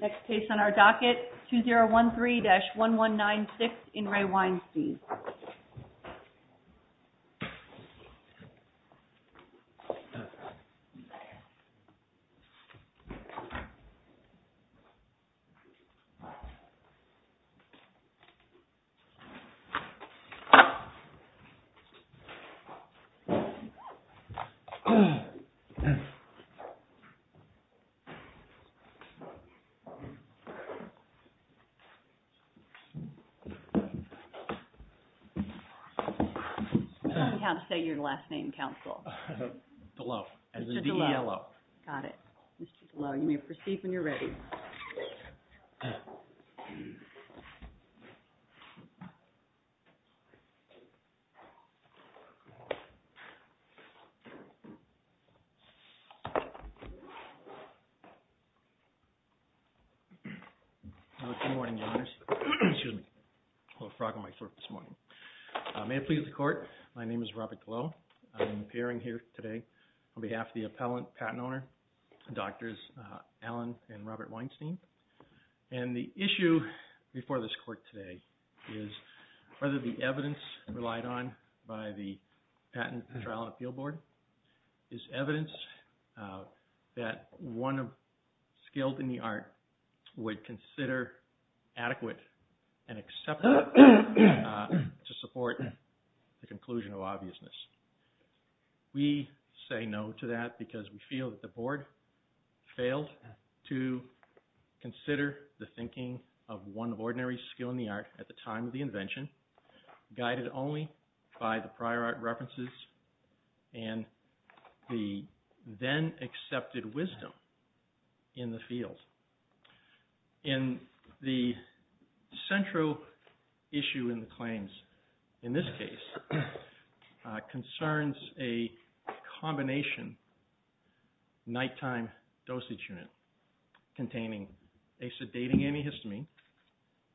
Next case on our docket 2013-1196 IN RE WEINSTEIN Next case on our docket 2013-1196 IN RE WEINSTEIN Good morning, Your Honors. Excuse me. A little frog on my throat this morning. May it please the Court, my name is Robert Gallo. I'm appearing here today on behalf of the appellant, patent owner, Drs. Allen and Robert Weinstein. And the issue before this Court today is whether the evidence relied on by the Patent and Trial and Appeal Board is evidence that one skilled in the art would consider adequate and acceptable to support the conclusion of obviousness. We say no to that because we feel that the Board failed to consider the thinking of one of ordinary skilled in the art at the time of the invention, guided only by the prior art references and the then accepted wisdom in the field. In the central issue in the claims in this case concerns a combination nighttime dosage unit containing a sedating antihistamine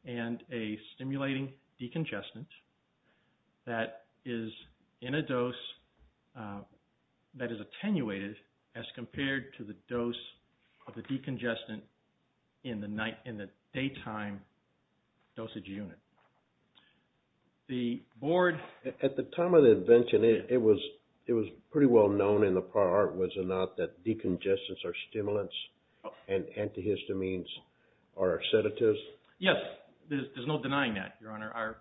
and a stimulating decongestant that is in a dose that is attenuated as compared to the dose of the decongestant in the daytime dosage unit. The Board… At the time of the invention, it was pretty well known in the prior art, was it not, that decongestants are stimulants and antihistamines are sedatives? Yes, there's no denying that, Your Honor. Our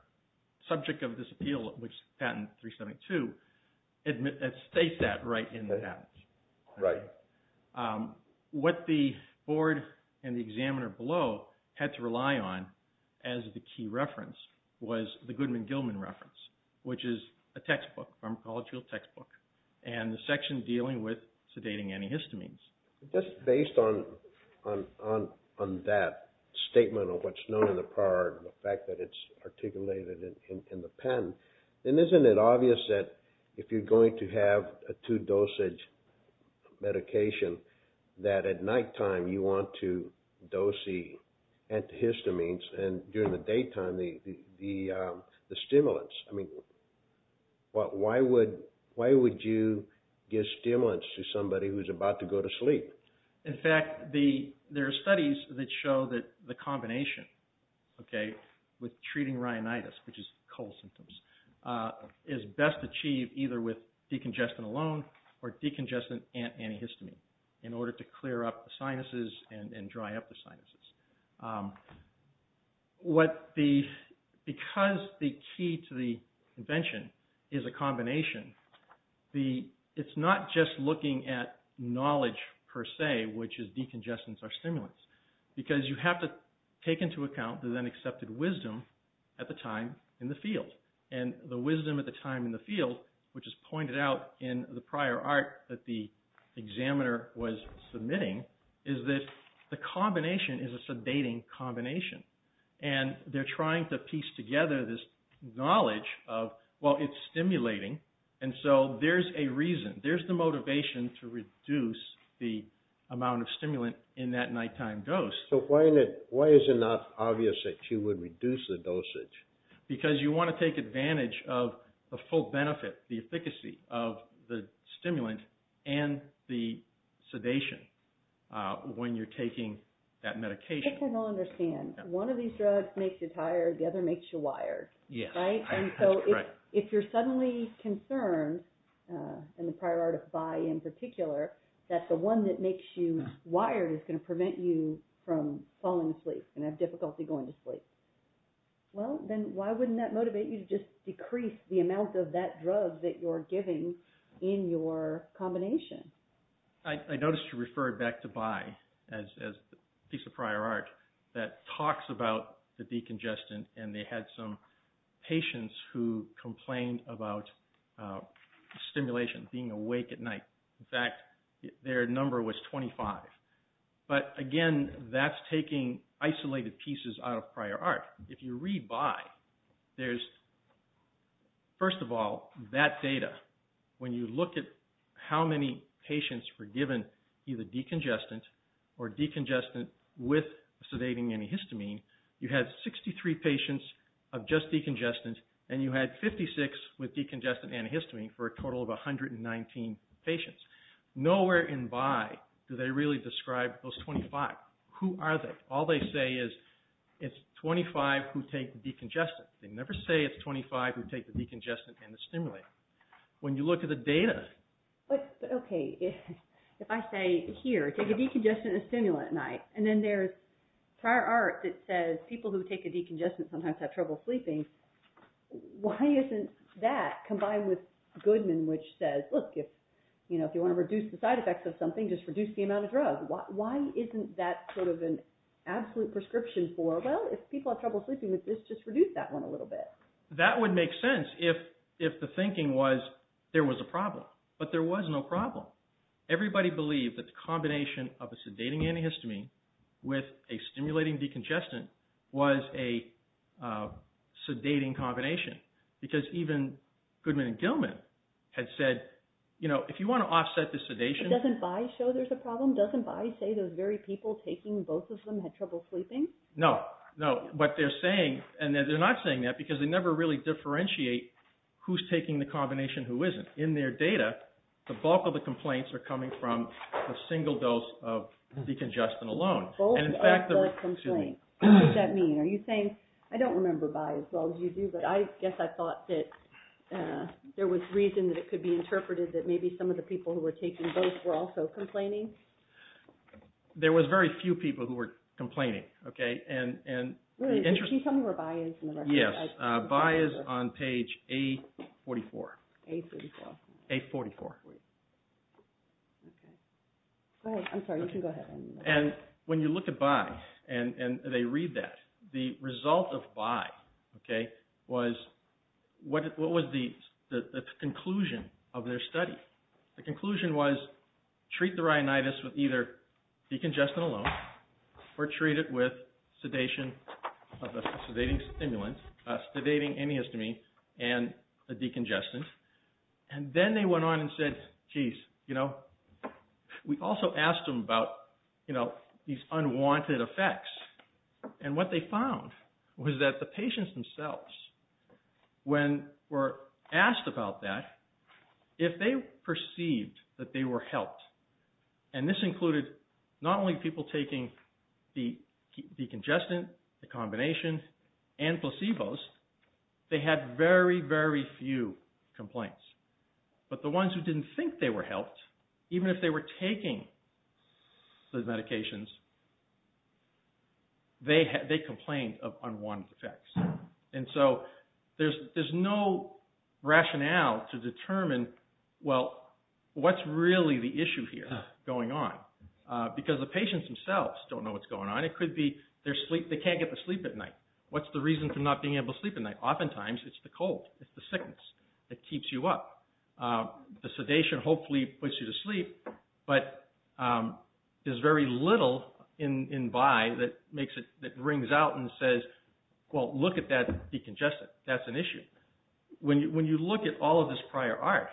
subject of this appeal, which is patent 372, states that right in the patent. Right. What the Board and the examiner below had to rely on as the key reference was the Goodman-Gilman reference, which is a textbook, pharmacological textbook, and the section dealing with sedating antihistamines. Just based on that statement of what's known in the prior art and the fact that it's articulated in the patent, then isn't it obvious that if you're going to have a two-dosage medication that at nighttime you want to dose the antihistamines and during the daytime the stimulants? Why would you give stimulants to somebody who's about to go to sleep? In fact, there are studies that show that the combination with treating rhinitis, which is cold symptoms, is best achieved either with decongestant alone or decongestant antihistamine in order to clear up the sinuses and dry up the sinuses. Because the key to the invention is a combination, it's not just looking at knowledge per se, which is decongestants or stimulants, because you have to take into account the then accepted wisdom at the time in the field. And the wisdom at the time in the field, which is pointed out in the prior art that the examiner was submitting, is that the combination is a sedating combination. And they're trying to piece together this knowledge of, well, it's stimulating, and so there's a reason, there's the motivation to reduce the amount of stimulant in that nighttime dose. So why is it not obvious that you would reduce the dosage? Because you want to take advantage of the full benefit, the efficacy of the stimulant and the sedation when you're taking that medication. I guess I don't understand. One of these drugs makes you tired, the other makes you wired, right? And so if you're suddenly concerned, in the prior art of Bayh in particular, that the one that makes you wired is going to prevent you from falling asleep and have difficulty going to sleep. Well, then why wouldn't that motivate you to just decrease the amount of that drug that you're giving in your combination? I noticed you referred back to Bayh as a piece of prior art that talks about the decongestant, and they had some patients who complained about stimulation, being awake at night. In fact, their number was 25. But again, that's taking isolated pieces out of prior art. If you read by, there's, first of all, that data, when you look at how many patients were given either decongestant or decongestant with sedating antihistamine, you had 63 patients of just decongestant, and you had 56 with decongestant antihistamine for a total of 119 patients. Nowhere in Bayh do they really describe those 25. Who are they? All they say is it's 25 who take decongestant. They never say it's 25 who take the decongestant and the stimulant. But, okay, if I say, here, take a decongestant and a stimulant at night, and then there's prior art that says people who take a decongestant sometimes have trouble sleeping, why isn't that combined with Goodman, which says, look, if you want to reduce the side effects of something, just reduce the amount of drugs, why isn't that sort of an absolute prescription for, well, if people have trouble sleeping, let's just reduce that one a little bit? That would make sense if the thinking was there was a problem, but there was no problem. Everybody believed that the combination of a sedating antihistamine with a stimulating decongestant was a sedating combination, because even Goodman and Gilman had said, you know, if you want to offset the sedation… Doesn't Bayh show there's a problem? Doesn't Bayh say those very people taking both of them had trouble sleeping? No, no, but they're saying, and they're not saying that because they never really differentiate who's taking the combination and who isn't. In their data, the bulk of the complaints are coming from the single dose of decongestant alone. What does that mean? Are you saying, I don't remember Bayh as well as you do, but I guess I thought that there was reason that it could be interpreted that maybe some of the people who were taking both were also complaining? There was very few people who were complaining. Really, did she tell me where Bayh is in the record? Yes, Bayh is on page A44. A44. A44. Go ahead, I'm sorry, you can go ahead. And when you look at Bayh, and they read that, the result of Bayh was, what was the conclusion of their study? The conclusion was, treat the rhinitis with either decongestant alone, or treat it with sedation of a sedating stimulant, a sedating inhiostomy, and a decongestant. And then they went on and said, geez, we also asked them about these unwanted effects, and what they found was that the patients themselves, when were asked about that, if they perceived that they were helped, and this included not only people taking decongestant, the combination, and placebos, they had very, very few complaints. But the ones who didn't think they were helped, even if they were taking those medications, they complained of unwanted effects. And so, there's no rationale to determine, well, what's really the issue here going on? Because the patients themselves don't know what's going on. It could be they can't get to sleep at night. What's the reason for not being able to sleep at night? Oftentimes, it's the cold, it's the sickness that keeps you up. The sedation hopefully puts you to sleep, but there's very little in by that rings out and says, well, look at that decongestant. That's an issue. When you look at all of this prior art,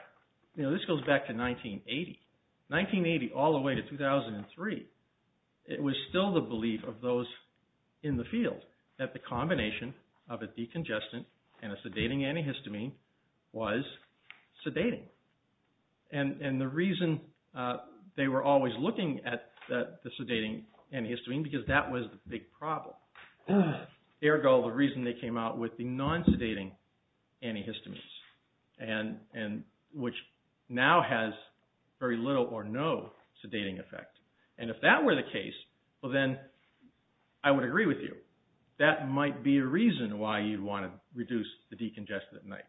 this goes back to 1980. 1980 all the way to 2003, it was still the belief of those in the field that the combination of a decongestant and a sedating antihistamine was sedating. And the reason they were always looking at the sedating antihistamine, because that was the big problem. Ergo, the reason they came out with the non-sedating antihistamines, which now has very little or no sedating effect. And if that were the case, well then, I would agree with you. That might be a reason why you'd want to reduce the decongestant at night.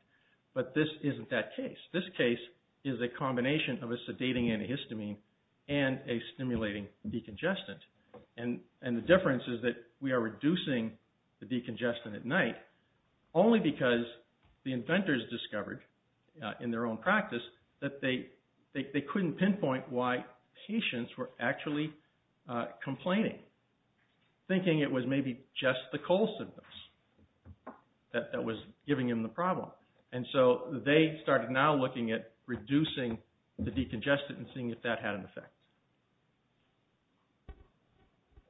But this isn't that case. This case is a combination of a sedating antihistamine and a stimulating decongestant. And the difference is that we are reducing the decongestant at night only because the inventors discovered in their own practice that they couldn't pinpoint why patients were actually complaining. Thinking it was maybe just the cold symptoms that was giving them the problem. And so they started now looking at reducing the decongestant and seeing if that had an effect.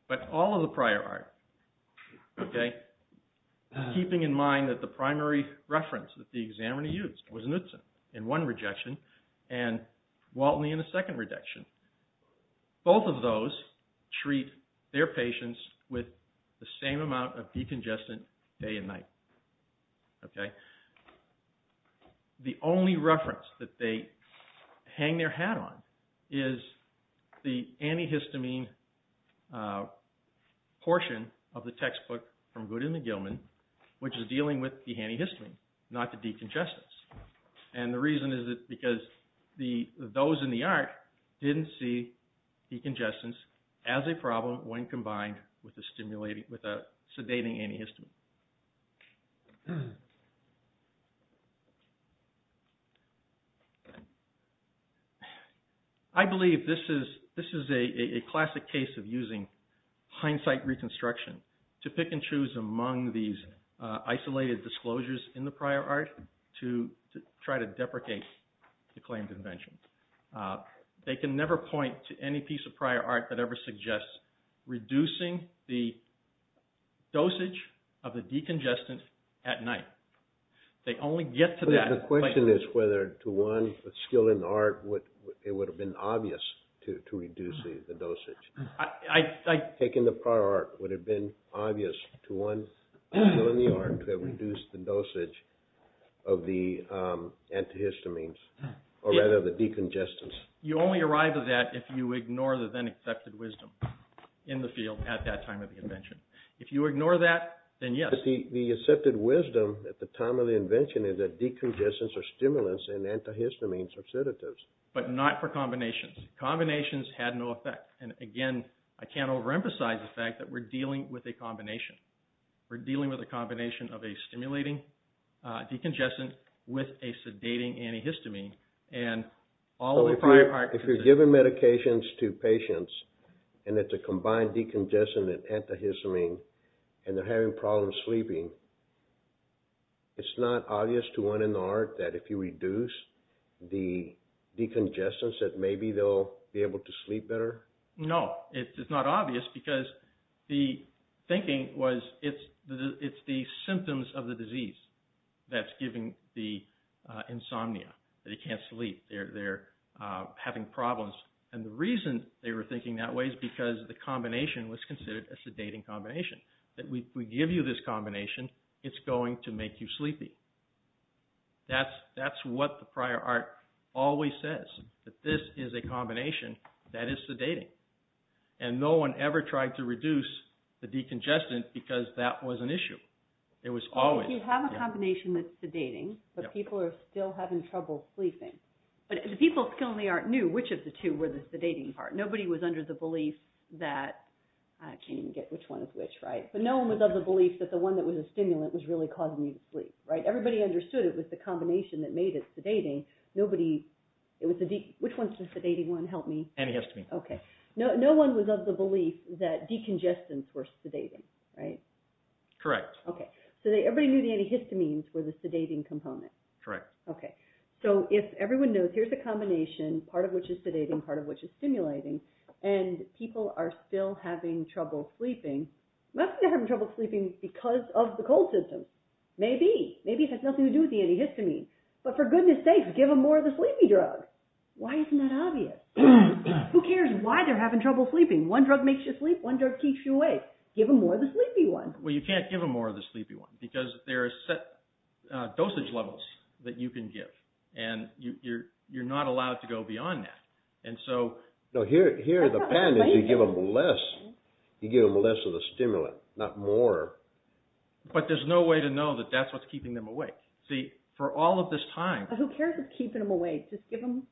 But all of the prior art, keeping in mind that the primary reference that the examiner used was Nutsen in one rejection and Waltney in the second rejection. Both of those treat their patients with the same amount of decongestant day and night. Okay. The only reference that they hang their hat on is the antihistamine portion of the textbook from Goodin and Gilman, which is dealing with the antihistamine, not the decongestants. And the reason is because those in the art didn't see decongestants as a problem when combined with a sedating antihistamine. I believe this is a classic case of using hindsight reconstruction to pick and choose among these isolated disclosures in the prior art to try to deprecate the claimed invention. They can never point to any piece of prior art that ever suggests reducing the dosage of the decongestant at night. The question is whether to one skill in the art it would have been obvious to reduce the dosage. Taking the prior art would have been obvious to one skill in the art to have reduced the dosage of the antihistamines, or rather the decongestants. You only arrive at that if you ignore the then accepted wisdom in the field at that time of the invention. If you ignore that, then yes. The accepted wisdom at the time of the invention is that decongestants are stimulants and antihistamines are sedatives. But not for combinations. Combinations had no effect. Again, I can't overemphasize the fact that we're dealing with a combination. We're dealing with a combination of a stimulating decongestant with a sedating antihistamine. If you're giving medications to patients and it's a combined decongestant and antihistamine and they're having problems sleeping, it's not obvious to one in the art that if you reduce the decongestants that maybe they'll be able to sleep better? No, it's not obvious because the thinking was it's the symptoms of the disease that's giving the insomnia. They can't sleep. They're having problems. And the reason they were thinking that way is because the combination was considered a sedating combination. That if we give you this combination, it's going to make you sleepy. That's what the prior art always says. That this is a combination that is sedating. And no one ever tried to reduce the decongestant because that was an issue. It was always. You have a combination that's sedating, but people are still having trouble sleeping. But the people of skill in the art knew which of the two were the sedating part. Nobody was under the belief that, I can't even get which one is which, right? But no one was of the belief that the one that was a stimulant was really causing you to sleep, right? Everybody understood it was the combination that made it sedating. Which one's the sedating one? Help me. Antihistamine. Okay. No one was of the belief that decongestants were sedating, right? Correct. Okay. So everybody knew the antihistamines were the sedating component. Correct. Okay. So if everyone knows here's the combination, part of which is sedating, part of which is stimulating, and people are still having trouble sleeping, they're not having trouble sleeping because of the cold system. Maybe. Maybe it has nothing to do with the antihistamine. But for goodness sakes, give them more of the sleepy drugs. Why isn't that obvious? Who cares why they're having trouble sleeping? One drug makes you sleep. One drug keeps you awake. Give them more of the sleepy one. Well, you can't give them more of the sleepy one because there are set dosage levels that you can give. And you're not allowed to go beyond that. And so... No, here the plan is you give them less. You give them less of the stimulant, not more. But there's no way to know that that's what's keeping them awake. See, for all of this time... Who cares what's keeping them awake? Just give them...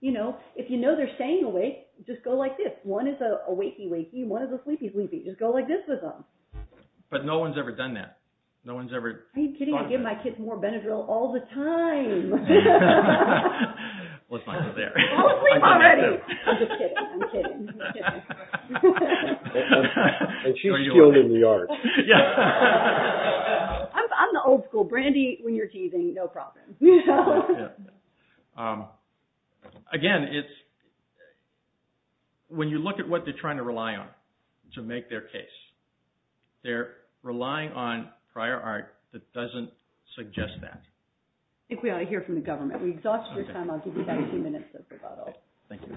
You know, if you know they're staying awake, just go like this. One is a wakey-wakey, one is a sleepy-sleepy. Just go like this with them. But no one's ever done that. No one's ever... Are you kidding? I give my kids more Benadryl all the time. Let's not go there. Go to sleep already. I'm just kidding. I'm kidding. And she was killed in the yard. I'm the old school. Brandy, when you're teething, no problem. Again, it's... They're not going to rely on it to make their case. They're relying on prior art that doesn't suggest that. I think we ought to hear from the government. We've exhausted your time. I'll give you about two minutes. Thank you.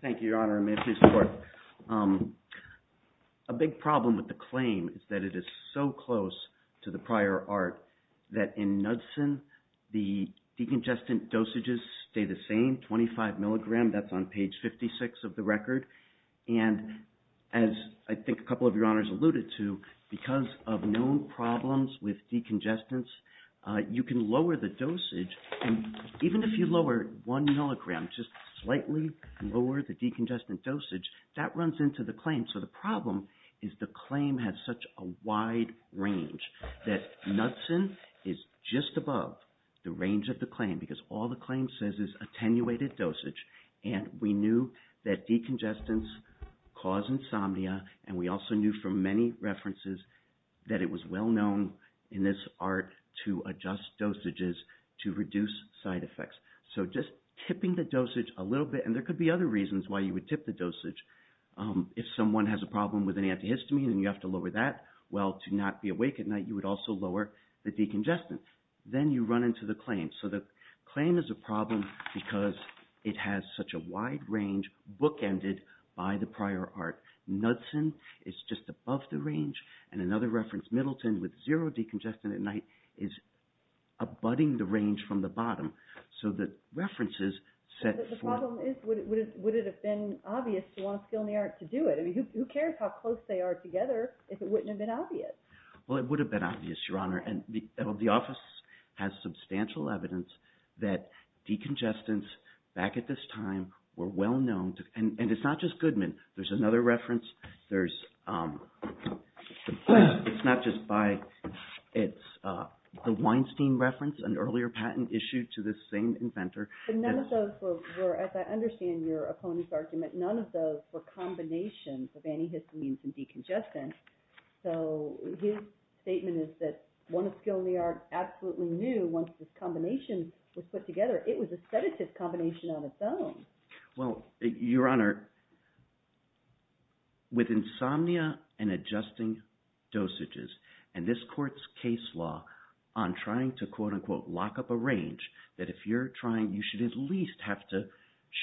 Thank you, Your Honor. May I please report? A big problem with the claim is that it is so close to the prior art that in Nudsen, the decongestant dosages stay the same, 25 milligram, that's on page 56 of the record. And as I think a couple of Your Honors alluded to, because of known problems with decongestants, you can lower the dosage. And even if you lower one milligram, just slightly lower the decongestant dosage, that runs into the claim. So the problem is the claim has such a wide range that Nudsen is just above the range of the claim because all the claim says is attenuated dosage. And we knew that decongestants cause insomnia, and we also knew from many references that it was well known in this art to adjust dosages to reduce side effects. So just tipping the dosage a little bit, and there could be other reasons why you would tip the dosage. If someone has a problem with an antihistamine and you have to lower that, well, to not be awake at night, you would also lower the decongestant. Then you run into the claim. So the claim is a problem because it has such a wide range, bookended by the prior art. Nudsen is just above the range, and another reference, Middleton, with zero decongestant at night, is abutting the range from the bottom. So the reference is set for... But the problem is, would it have been obvious to want to steal any art to do it? I mean, who cares how close they are together if it wouldn't have been obvious? Well, it would have been obvious, Your Honor. And the office has substantial evidence that decongestants back at this time were well known to... And it's not just Goodman. There's another reference. There's... It's not just by... It's the Weinstein reference, an earlier patent issued to the same inventor. But none of those were, as I understand your opponent's argument, none of those were combinations of antihistamines and decongestants. So his statement is that one of Skilniar absolutely knew once this combination was put together, it was a sedative combination on its own. Well, Your Honor, with insomnia and adjusting dosages, and this court's case law on trying to, quote-unquote, lock up a range, that if you're trying, you should at least have to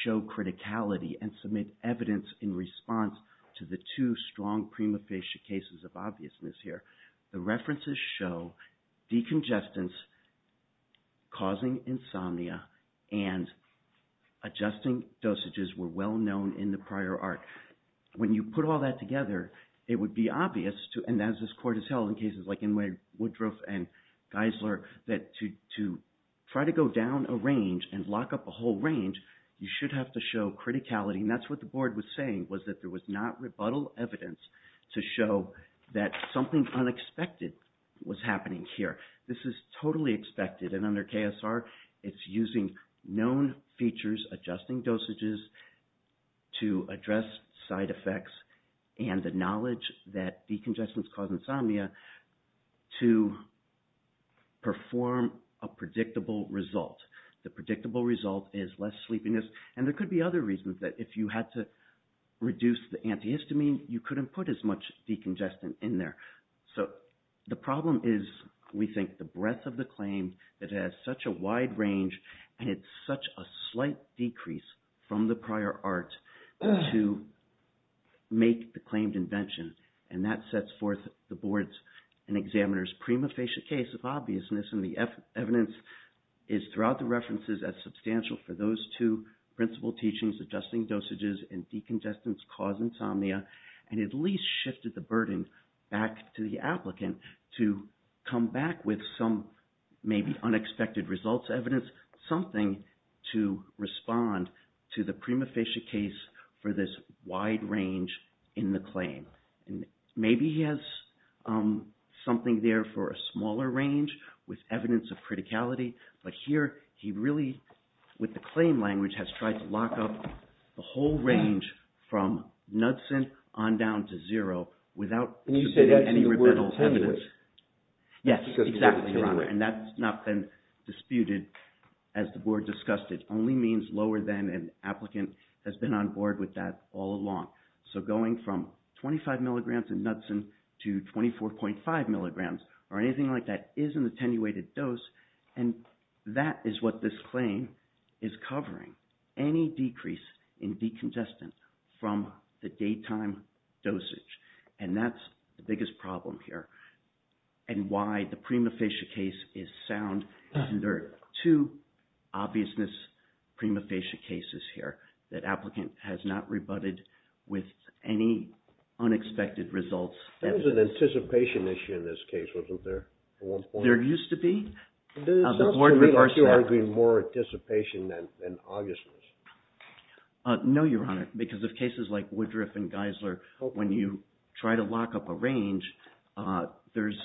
show criticality and submit evidence in response to the two strong prima facie cases of obviousness here. The references show decongestants causing insomnia and adjusting dosages were well known in the prior art. When you put all that together, it would be obvious, and as this court has held in cases like Inwood, Woodruff, and Geisler, that to try to go down a range and lock up a whole range, you should have to show criticality, and that's what the board was saying, was that there was not rebuttal evidence to show that something unexpected was happening here. This is totally expected, and under KSR, it's using known features, adjusting dosages, to address side effects, and the knowledge that decongestants cause insomnia to perform a predictable result. The predictable result is less sleepiness, and there could be other reasons that if you had to reduce the antihistamine, you couldn't put as much decongestant in there. So the problem is, we think, the breadth of the claim, it has such a wide range, and it's such a slight decrease from the prior art to make the claimed invention, and that sets forth the board's and examiner's prima facie case of obviousness, and the evidence is throughout the references as substantial for those two principal teachings, adjusting dosages and decongestants cause insomnia, and at least shifted the burden back to the applicant to come back with some maybe unexpected results, evidence, something to respond to the prima facie case for this wide range in the claim. Maybe he has something there for a smaller range with evidence of criticality, but here he really, with the claim language, has tried to lock up the whole range from nuts and on down to zero without any rebuttal evidence. Yes, exactly, Your Honor, and that's not been disputed as the board discussed it. It only means lower than an applicant has been on board with that all along. So going from 25 milligrams in nuts and to 24.5 milligrams or anything like that is an attenuated dose, and that is what this claim is covering, any decrease in decongestant from the daytime dosage, and that's the biggest problem here and why the prima facie case is sound. There are two obviousness prima facie cases here that applicant has not rebutted with any unexpected results. There was an anticipation issue in this case, wasn't there? There used to be. The board reversed that. Are you arguing more anticipation than obviousness? No, Your Honor, because of cases like Woodruff and Geisler, when you try to lock up a range, there's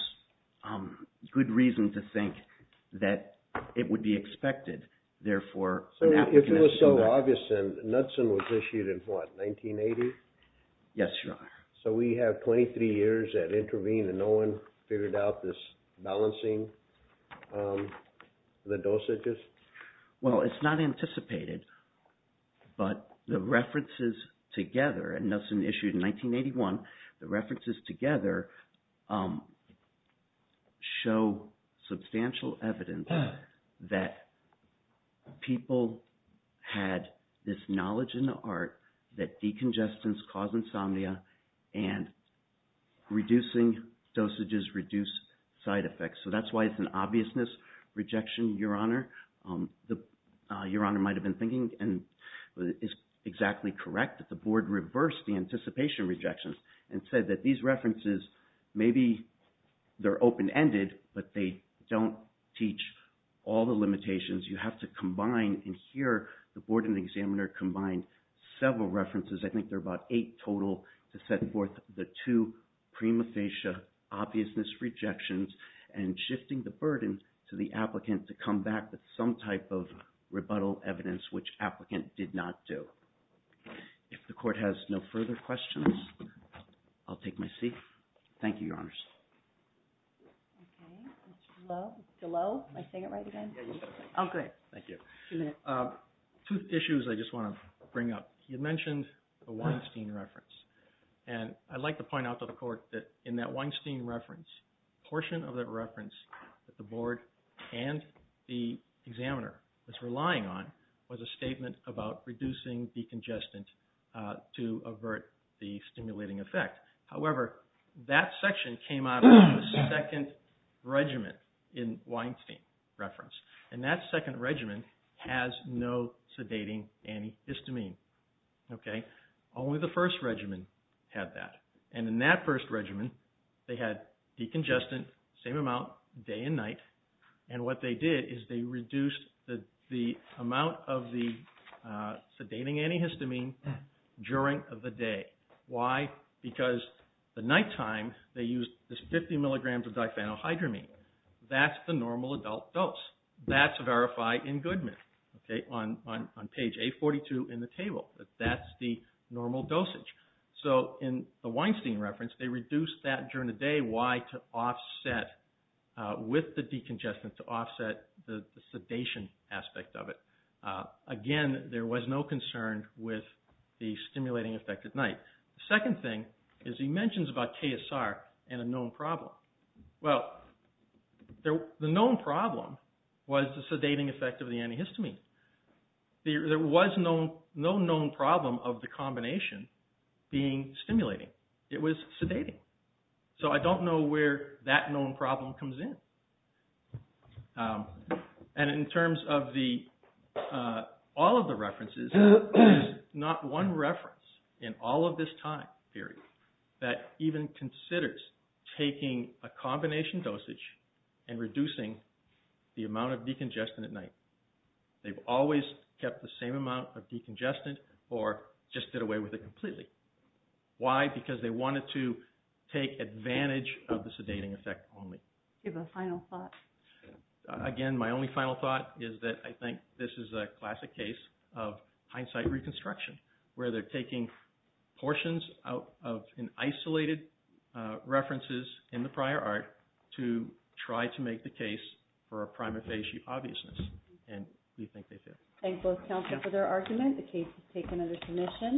good reason to think that it would be expected. So if it was so obvious then, Knudsen was issued in what, 1980? Yes, Your Honor. So we have 23 years that intervened and no one figured out this balancing the dosages? Well, it's not anticipated, but the references together, and Knudsen issued in 1981, the references together show substantial evidence that people had this knowledge in the art that decongestants cause insomnia and reducing dosages reduce side effects. So that's why it's an obviousness rejection, Your Honor. Your Honor might have been thinking, and it's exactly correct, that the board reversed the anticipation rejections and said that these references, maybe they're open-ended, but they don't teach all the limitations. You have to combine, and here, the board and the examiner combined several references, I think there are about eight total, to set forth the two prima facie obviousness rejections and shifting the burden to the applicant to come back with some type of rebuttal evidence, which applicant did not do. If the court has no further questions, I'll take my seat. Thank you, Your Honors. Hello? Am I saying it right again? Oh, good. Thank you. Two issues I just want to bring up. You mentioned the Weinstein reference, and I'd like to point out to the court that in that Weinstein reference, a portion of that reference that the board and the examiner was relying on was a statement about reducing decongestant to avert the stimulating effect. However, that section came out of the second regimen in Weinstein reference, and that second regimen has no sedating antihistamine. Only the first regimen had that, and in that first regimen, they had decongestant, same amount, day and night, and what they did is they reduced the amount of the sedating antihistamine during the day. Why? Because the nighttime, they used this 50 milligrams of diphenylhydramine. That's the normal adult dose. That's verified in Goodman on page 842 in the table. That's the normal dosage. So in the Weinstein reference, they reduced that during the day. Why? To offset with the decongestant, to offset the sedation aspect of it. Again, there was no concern with the stimulating effect at night. The second thing is he mentions about KSR and a known problem. Well, the known problem was the sedating effect of the antihistamine. There was no known problem of the combination being stimulating. It was sedating. So I don't know where that known problem comes in, and in terms of all of the references, there's not one reference in all of this time period that even considers taking a combination dosage and reducing the amount of decongestant at night. They've always kept the same amount of decongestant or just did away with it completely. Why? Because they wanted to take advantage of the sedating effect only. Give a final thought. Again, my only final thought is that I think this is a classic case of hindsight reconstruction, where they're taking portions out of an isolated references in the prior art to try to make the case for a prima facie obviousness, and we think they failed. Thank both counsel for their argument. The case is taken under submission.